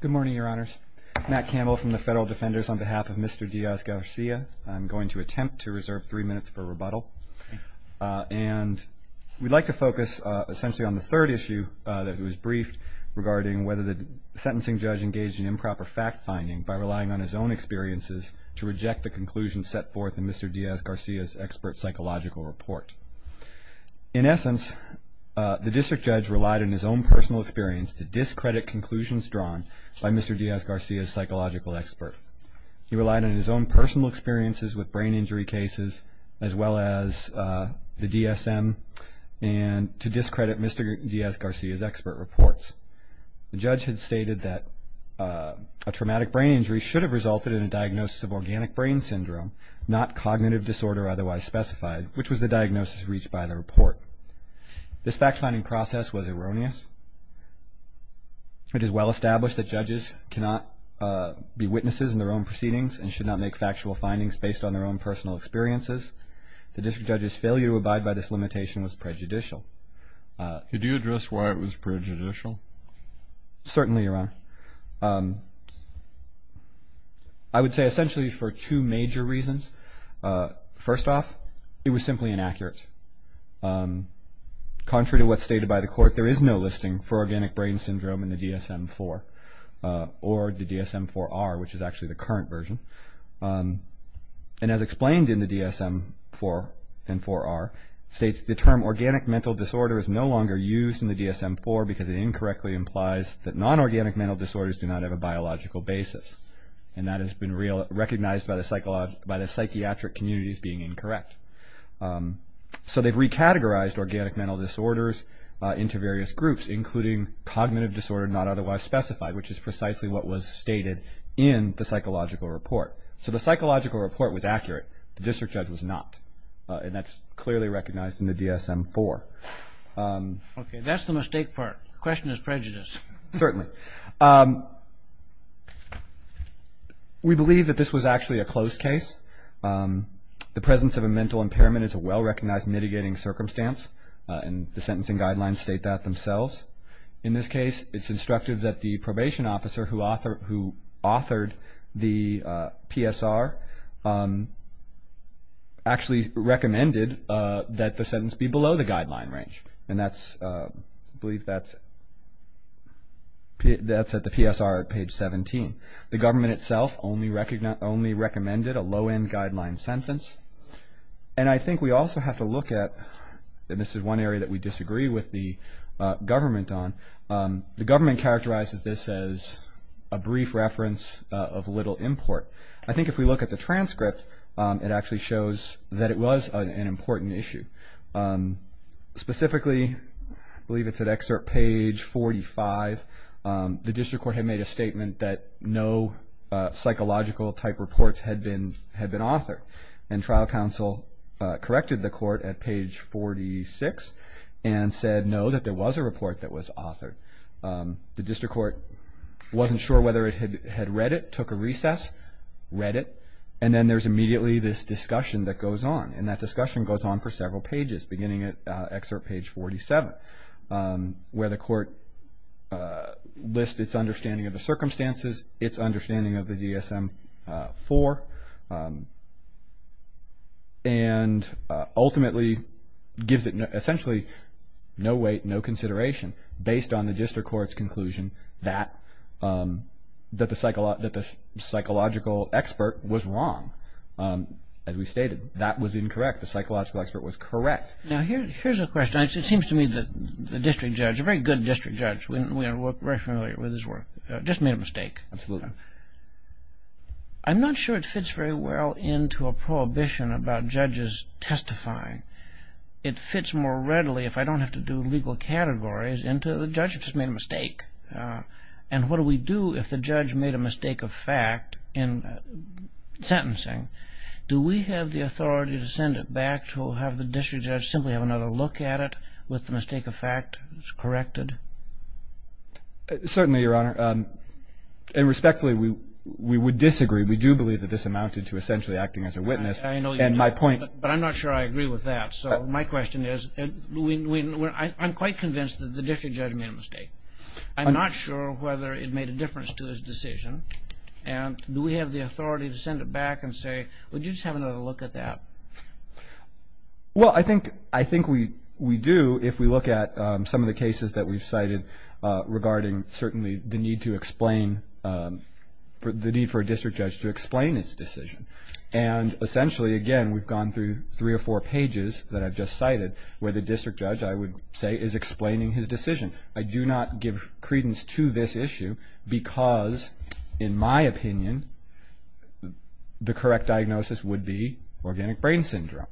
Good morning, Your Honors. Matt Campbell from the Federal Defenders on behalf of Mr. Diaz-Garcia. I'm going to attempt to reserve three minutes for rebuttal. And we'd like to focus essentially on the third issue that was briefed regarding whether the sentencing judge engaged in improper fact-finding by relying on his own experiences to reject the conclusions set forth in Mr. Diaz-Garcia's expert psychological report. In essence, the district judge relied on his own personal experience to discredit conclusions drawn by Mr. Diaz-Garcia's psychological expert. He relied on his own personal experiences with brain injury cases as well as the DSM to discredit Mr. Diaz-Garcia's expert reports. The judge had stated that a traumatic brain injury should have resulted in a diagnosis of organic brain syndrome, not cognitive disorder otherwise specified, which was the diagnosis reached by the report. This fact-finding process was erroneous. It is well established that judges cannot be witnesses in their own proceedings and should not make factual findings based on their own personal experiences. The district judge's failure to abide by this limitation was prejudicial. Certainly, Your Honor. I would say essentially for two major reasons. First off, it was simply inaccurate. Contrary to what's stated by the court, there is no listing for organic brain syndrome in the DSM-IV or the DSM-IV-R, which is actually the current version. And as explained in the DSM-IV and DSM-IV-R, it states the term organic mental disorder is no longer used in the DSM-IV because it incorrectly implies that non-organic mental disorders do not have a biological basis. And that has been recognized by the psychiatric communities being incorrect. So they've recategorized organic mental disorders into various groups, including cognitive disorder not otherwise specified, which is precisely what was stated in the psychological report. So the psychological report was accurate. The district judge was not. And that's clearly recognized in the DSM-IV. Okay. That's the mistake part. The question is prejudice. Certainly. We believe that this was actually a closed case. The presence of a mental impairment is a well-recognized mitigating circumstance, and the sentencing guidelines state that themselves. In this case, it's instructive that the probation officer who authored the PSR actually recommended that the sentence be below the guideline range. And I believe that's at the PSR at page 17. The government itself only recommended a low-end guideline sentence. And I think we also have to look at, and this is one area that we disagree with the government on, the government characterizes this as a brief reference of little import. I think if we look at the transcript, it actually shows that it was an important issue. Specifically, I believe it's at excerpt page 45, the district court had made a statement that no psychological-type reports had been authored. And trial counsel corrected the court at page 46 and said, no, that there was a report that was authored. The district court wasn't sure whether it had read it, took a recess, read it, and then there's immediately this discussion that goes on. And that discussion goes on for several pages, beginning at excerpt page 47, where the court lists its understanding of the circumstances, its understanding of the DSM-IV, and ultimately gives it essentially no weight, no consideration, based on the district court's conclusion that the psychological expert was wrong. As we stated, that was incorrect. The psychological expert was correct. Now, here's a question. It seems to me that the district judge, a very good district judge, we are very familiar with his work, just made a mistake. Absolutely. I'm not sure it fits very well into a prohibition about judges testifying. It fits more readily, if I don't have to do legal categories, into the judge just made a mistake. And what do we do if the judge made a mistake of fact in sentencing? Do we have the authority to send it back to have the district judge simply have another look at it with the mistake of fact corrected? Certainly, Your Honor. And respectfully, we would disagree. We do believe that this amounted to essentially acting as a witness. I know you do, but I'm not sure I agree with that. So my question is, I'm quite convinced that the district judge made a mistake. I'm not sure whether it made a difference to his decision. And do we have the authority to send it back and say, would you just have another look at that? Well, I think we do if we look at some of the cases that we've cited regarding certainly the need to explain, the need for a district judge to explain his decision. And essentially, again, we've gone through three or four pages that I've just cited where the district judge, I would say, is explaining his decision. I do not give credence to this issue because, in my opinion, the correct diagnosis would be organic brain syndrome.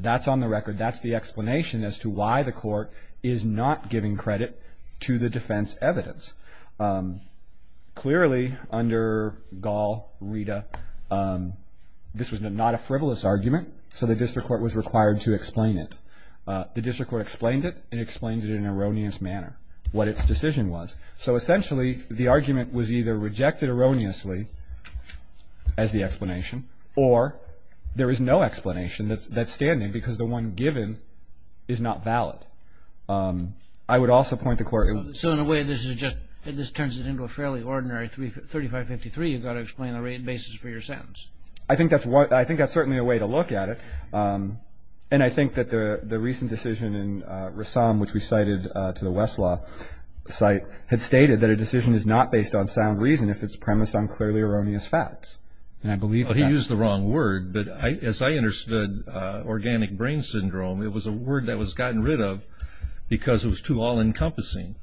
That's on the record. That's the explanation as to why the court is not giving credit to the defense evidence. Clearly, under Gall, Rita, this was not a frivolous argument, so the district court was required to explain it. The district court explained it, and it explained it in an erroneous manner, what its decision was. So essentially, the argument was either rejected erroneously as the explanation, or there is no explanation that's standing because the one given is not valid. I would also point the court. So in a way, this is just, this turns it into a fairly ordinary 3553. You've got to explain the rate basis for your sentence. I think that's certainly a way to look at it. And I think that the recent decision in Rassam, which we cited to the Westlaw site, had stated that a decision is not based on sound reason if it's premised on clearly erroneous facts. He used the wrong word, but as I understood organic brain syndrome, it was a word that was gotten rid of because it was too all-encompassing.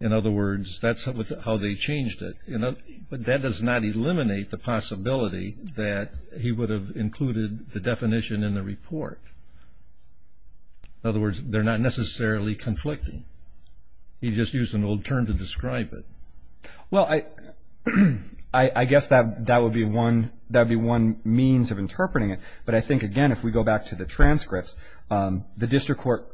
In other words, that's how they changed it. But that does not eliminate the possibility that he would have included the definition in the report. In other words, they're not necessarily conflicting. He just used an old term to describe it. Well, I guess that would be one means of interpreting it. But I think, again, if we go back to the transcripts, the district court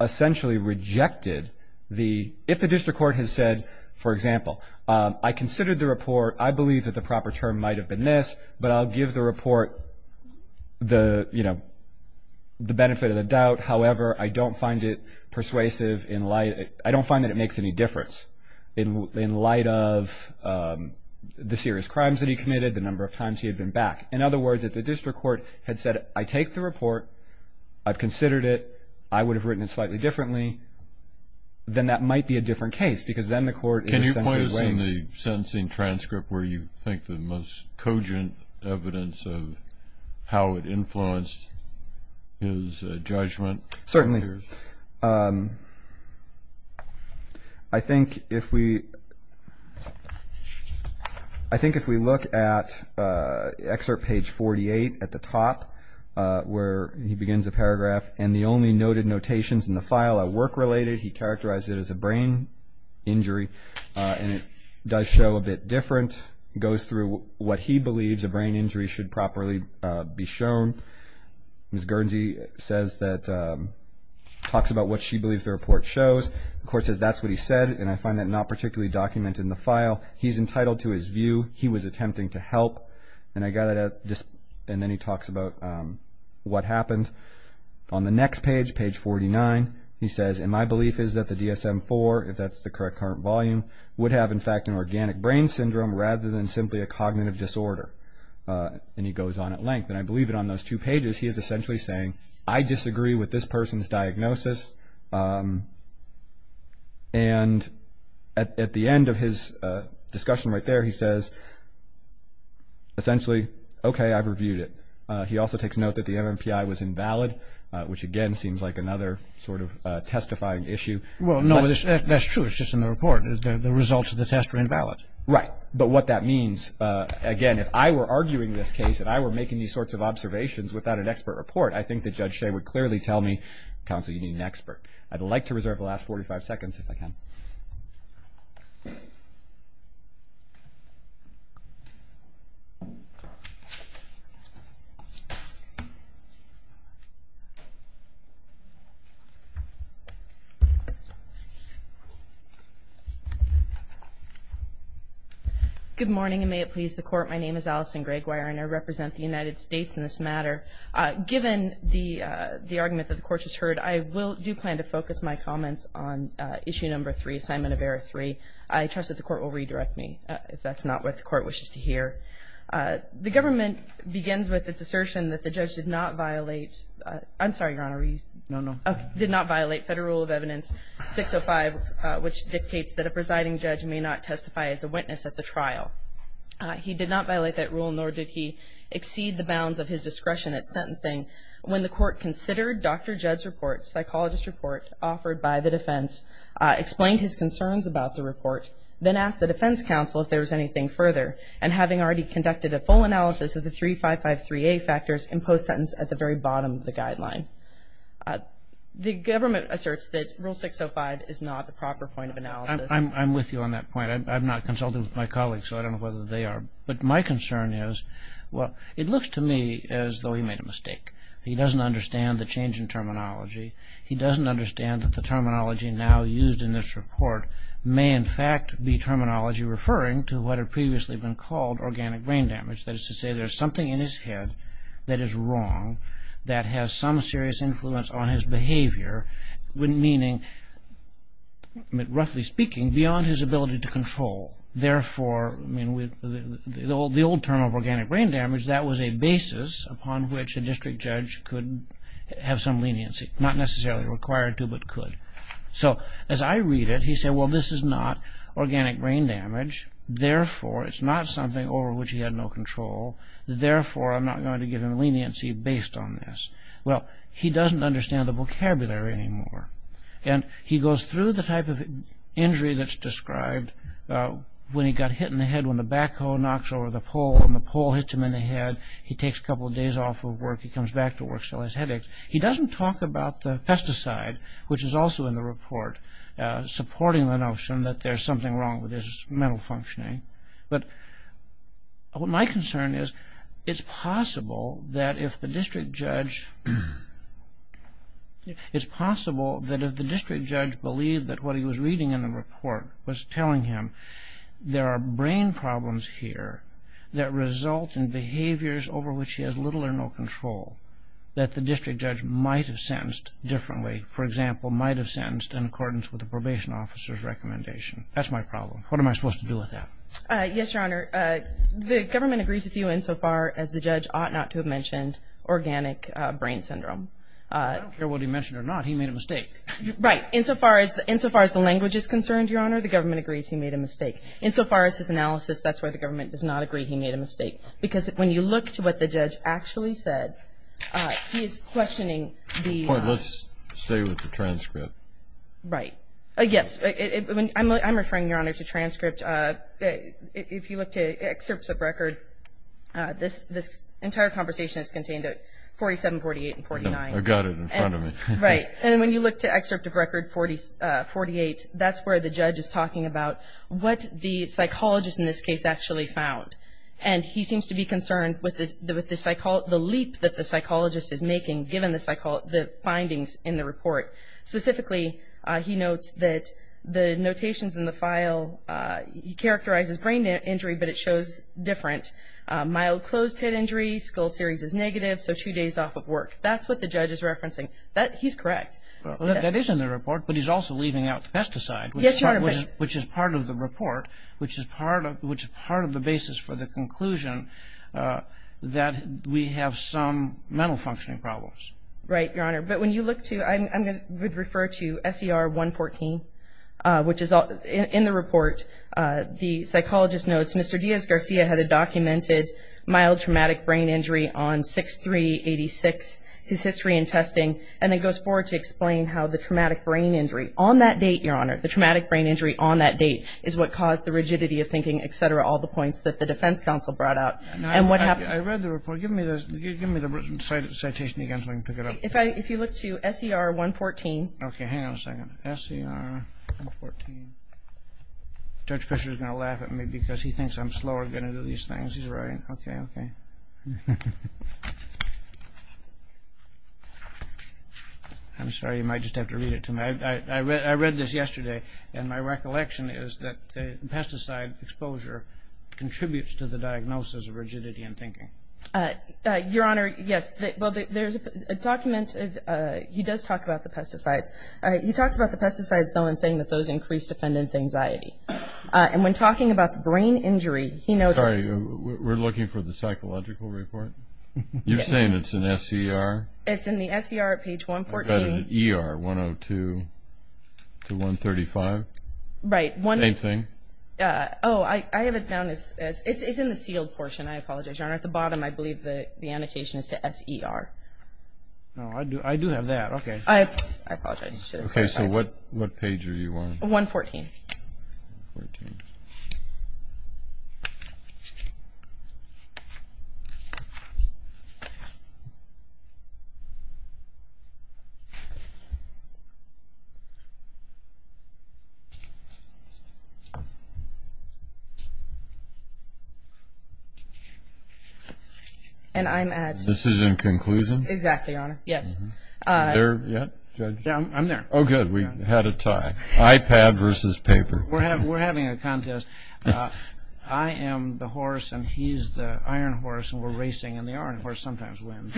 essentially rejected the, if the district court has said, for example, I considered the report, I believe that the proper term might have been this, but I'll give the report the benefit of the doubt. However, I don't find it persuasive in light, I don't find that it makes any difference in light of the serious crimes that he committed, the number of times he had been back. In other words, if the district court had said, I take the report, I've considered it, I would have written it slightly differently, then that might be a different case because then the court is essentially waiting. Can you point us in the sentencing transcript where you think the most cogent evidence of how it influenced his judgment? Certainly. I think if we look at excerpt page 48 at the top where he begins a paragraph and the only noted notations in the file are work-related. He characterized it as a brain injury, and it does show a bit different, goes through what he believes a brain injury should properly be shown. Ms. Guernsey says that, talks about what she believes the report shows. The court says that's what he said, and I find that not particularly documented in the file. He's entitled to his view. He was attempting to help. And then he talks about what happened. On the next page, page 49, he says, and my belief is that the DSM-IV, if that's the correct current volume, would have, in fact, an organic brain syndrome rather than simply a cognitive disorder. And he goes on at length, and I believe that on those two pages he is essentially saying, I disagree with this person's diagnosis. And at the end of his discussion right there, he says, essentially, okay, I've reviewed it. He also takes note that the MMPI was invalid, which, again, seems like another sort of testifying issue. Well, no, that's true. It's just in the report. The results of the test were invalid. Right. But what that means, again, if I were arguing this case, if I were making these sorts of observations without an expert report, I think that Judge Shea would clearly tell me, counsel, you need an expert. I'd like to reserve the last 45 seconds, if I can. Good morning, and may it please the Court. My name is Allison Gregoire, and I represent the United States in this matter. Given the argument that the Court has heard, I do plan to focus my comments on issue number three, assignment of error three. I trust that the Court will redirect me, if that's not what the Court wishes to hear. The government begins with its assertion that the judge did not violate, I'm sorry, Your Honor. No, no. Did not violate Federal Rule of Evidence 605, which dictates that a presiding judge may not testify as a witness at the trial. He did not violate that rule, nor did he exceed the bounds of his discretion at sentencing. When the Court considered Dr. Judd's report, psychologist's report offered by the defense, explained his concerns about the report, then asked the defense counsel if there was anything further, and having already conducted a full analysis of the 3553A factors, imposed sentence at the very bottom of the guideline. The government asserts that Rule 605 is not the proper point of analysis. I'm with you on that point. I'm not consulting with my colleagues, so I don't know whether they are. But my concern is, well, it looks to me as though he made a mistake. He doesn't understand the change in terminology. He doesn't understand that the terminology now used in this report may in fact be terminology referring to what had previously been called organic brain damage. That is to say, there's something in his head that is wrong, that has some serious influence on his behavior, meaning, roughly speaking, beyond his ability to control. Therefore, the old term of organic brain damage, that was a basis upon which a district judge could have some leniency. Not necessarily required to, but could. So, as I read it, he said, well, this is not organic brain damage. Therefore, it's not something over which he had no control. Therefore, I'm not going to give him leniency based on this. Well, he doesn't understand the vocabulary anymore. And he goes through the type of injury that's described when he got hit in the head, when the backhoe knocks over the pole, and the pole hits him in the head. He takes a couple of days off of work. He comes back to work, still has headaches. He doesn't talk about the pesticide, which is also in the report, supporting the notion that there's something wrong with his mental functioning. But my concern is, it's possible that if the district judge believed that what he was reading in the report was telling him there are brain problems here that result in behaviors over which he has little or no control, that the district judge might have sentenced differently. For example, might have sentenced in accordance with the probation officer's recommendation. That's my problem. What am I supposed to do with that? Yes, Your Honor. The government agrees with you insofar as the judge ought not to have mentioned organic brain syndrome. I don't care what he mentioned or not. He made a mistake. Right. Insofar as the language is concerned, Your Honor, the government agrees he made a mistake. Insofar as his analysis, that's why the government does not agree he made a mistake. Because when you look to what the judge actually said, he is questioning the – Let's stay with the transcript. Right. Yes. I'm referring, Your Honor, to transcript. If you look to excerpts of record, this entire conversation is contained at 47, 48, and 49. I've got it in front of me. Right. And when you look to excerpt of record 48, that's where the judge is talking about what the psychologist in this case actually found. And he seems to be concerned with the leap that the psychologist is making given the findings in the report. Specifically, he notes that the notations in the file, he characterizes brain injury, but it shows different. Mild closed-head injury, skull series is negative, so two days off of work. That's what the judge is referencing. He's correct. That is in the report, but he's also leaving out the pesticide, which is part of the report, which is part of the basis for the conclusion that we have some mental functioning problems. Right, Your Honor. But when you look to, I would refer to SER 114, which is in the report, the psychologist notes, Mr. Diaz-Garcia had a documented mild traumatic brain injury on 6-3-86, his history in testing, and it goes forward to explain how the traumatic brain injury on that date, Your Honor, the traumatic brain injury on that date is what caused the rigidity of thinking, et cetera, all the points that the defense counsel brought out. I read the report. Give me the citation again so I can pick it up. If you look to SER 114. Okay. Hang on a second. SER 114. Judge Fischer is going to laugh at me because he thinks I'm slower getting into these things. He's right. Okay, okay. I'm sorry. You might just have to read it to me. I read this yesterday, and my recollection is that pesticide exposure contributes to the diagnosis of rigidity in thinking. Your Honor, yes. Well, there's a document. He does talk about the pesticides. He talks about the pesticides, though, in saying that those increase defendant's anxiety. And when talking about the brain injury, he notes. Sorry. We're looking for the psychological report? You're saying it's in SER? It's in the SER, page 114. ER 102 to 135? Right. Oh, I have it down. It's in the sealed portion. I apologize, Your Honor. At the bottom, I believe the annotation is to SER. Oh, I do have that. Okay. I apologize. Okay. So what page are you on? 114. 114. And I'm at. This is in conclusion? Exactly, Your Honor. Yes. Are you there yet, Judge? Yeah, I'm there. Oh, good. We had a tie. iPad versus paper. We're having a contest. I am the horse, and he's the iron horse, and we're racing, and the iron horse sometimes wins.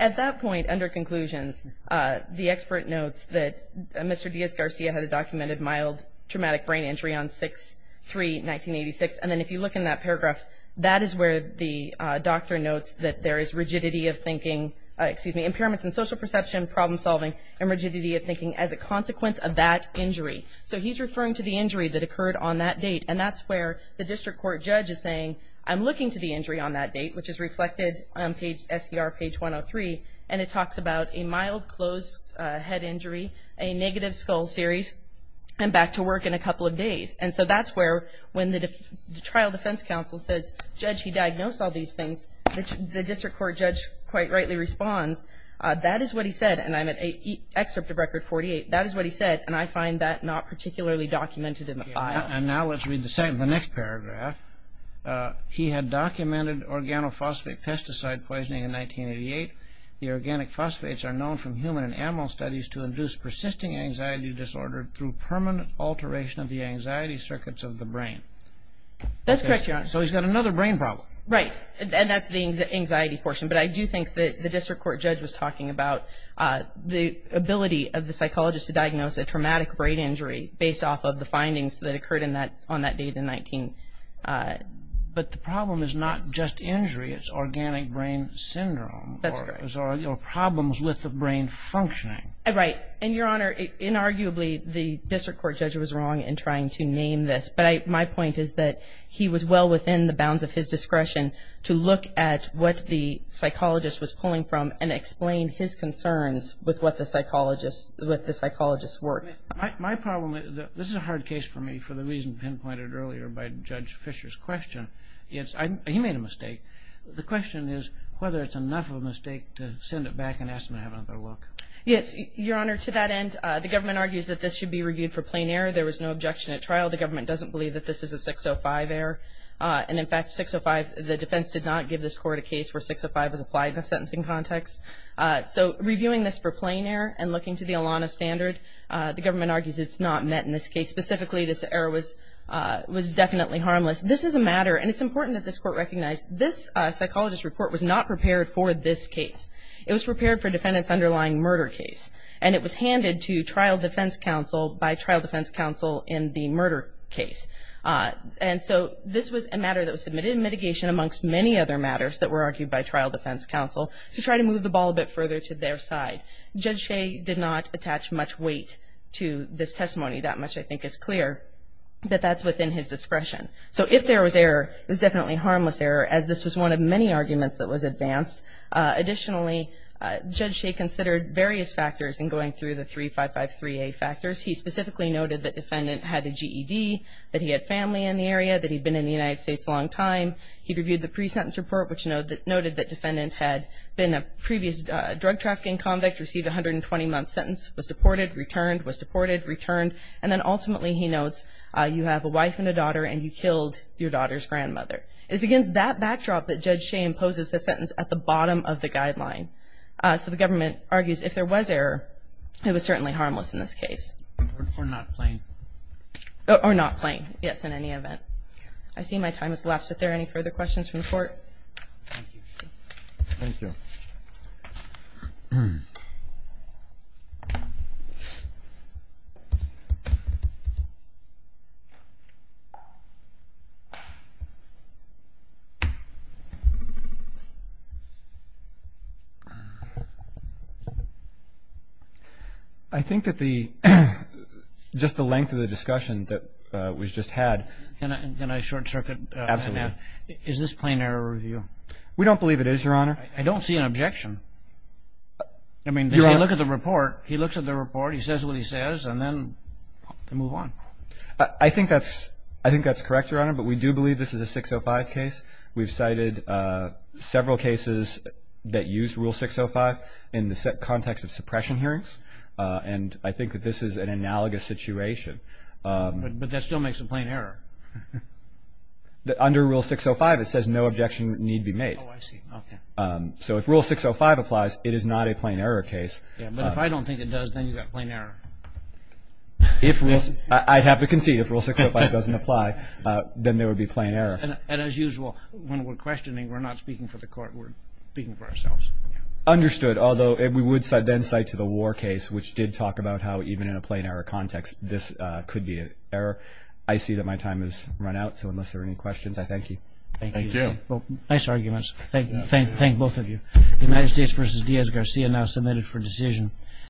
At that point, under conclusions, the expert notes that Mr. Diaz-Garcia had a documented mild traumatic brain injury on 6-3-1986, and then if you look in that paragraph, that is where the doctor notes that there is rigidity of thinking, excuse me, impairments in social perception, problem solving, and rigidity of thinking as a consequence of that injury. So he's referring to the injury that occurred on that date, and that's where the district court judge is saying, I'm looking to the injury on that date, which is reflected on SER page 103, and it talks about a mild closed head injury, a negative skull series, and back to work in a couple of days. And so that's where when the trial defense counsel says, Judge, he diagnosed all these things, the district court judge quite rightly responds, that is what he said, and I'm at excerpt of Record 48. That is what he said, and I find that not particularly documented in the file. And now let's read the next paragraph. He had documented organophosphate pesticide poisoning in 1988. The organic phosphates are known from human and animal studies to induce persisting anxiety disorder through permanent alteration of the anxiety circuits of the brain. That's correct, Your Honor. So he's got another brain problem. Right. And that's the anxiety portion. But I do think that the district court judge was talking about the ability of the psychologist to diagnose a traumatic brain injury based off of the findings that occurred on that date in 19... But the problem is not just injury. It's organic brain syndrome. That's correct. Or problems with the brain functioning. Right. And, Your Honor, inarguably, the district court judge was wrong in trying to name this. But my point is that he was well within the bounds of his discretion to look at what the psychologist was pulling from and explain his concerns with what the psychologist worked. My problem, this is a hard case for me for the reason pinpointed earlier by Judge Fisher's question. He made a mistake. The question is whether it's enough of a mistake to send it back and ask them to have another look. Yes, Your Honor. To that end, the government argues that this should be reviewed for plain error. There was no objection at trial. The government doesn't believe that this is a 605 error. And, in fact, 605, the defense did not give this court a case where 605 was applied in a sentencing context. So reviewing this for plain error and looking to the ALANA standard, the government argues it's not met in this case. Specifically, this error was definitely harmless. This is a matter, and it's important that this court recognize, this psychologist's report was not prepared for this case. It was prepared for defendant's underlying murder case, and it was handed to trial defense counsel by trial defense counsel in the murder case. And so this was a matter that was submitted in mitigation amongst many other matters that were argued by trial defense counsel to try to move the ball a bit further to their side. Judge Shea did not attach much weight to this testimony. That much, I think, is clear. But that's within his discretion. So if there was error, it was definitely harmless error, as this was one of many arguments that was advanced. Additionally, Judge Shea considered various factors in going through the 3553A factors. He specifically noted that defendant had a GED, that he had family in the area, that he'd been in the United States a long time. He reviewed the pre-sentence report, which noted that defendant had been a previous drug trafficking convict, received a 120-month sentence, was deported, returned, was deported, returned. And then ultimately, he notes, you have a wife and a daughter, and you killed your daughter's grandmother. It's against that backdrop that Judge Shea imposes the sentence at the bottom of the guideline. So the government argues if there was error, it was certainly harmless in this case. Or not plain. Or not plain, yes, in any event. I see my time has left. Is there any further questions from the Court? Thank you. Thank you. I think that the, just the length of the discussion that we've just had. Can I short-circuit? Absolutely. Is this plain error review? We don't believe it is, Your Honor. I don't see an objection. I mean, if you look at the report, he looks at the report, he says what he says, and then they move on. I think that's correct, Your Honor. But we do believe this is a 605 case. We've cited several cases that use Rule 605 in the context of suppression hearings. And I think that this is an analogous situation. But that still makes it plain error. Under Rule 605, it says no objection need be made. Oh, I see. Okay. So if Rule 605 applies, it is not a plain error case. Yeah, but if I don't think it does, then you've got plain error. I'd have to concede. If Rule 605 doesn't apply, then there would be plain error. And as usual, when we're questioning, we're not speaking for the Court. We're speaking for ourselves. Understood. Although we would then cite to the war case, which did talk about how even in a plain error context, this could be an error. I see that my time has run out, so unless there are any questions, I thank you. Thank you. Nice arguments. Thank both of you. The United States v. Diaz-Garcia now submitted for decision.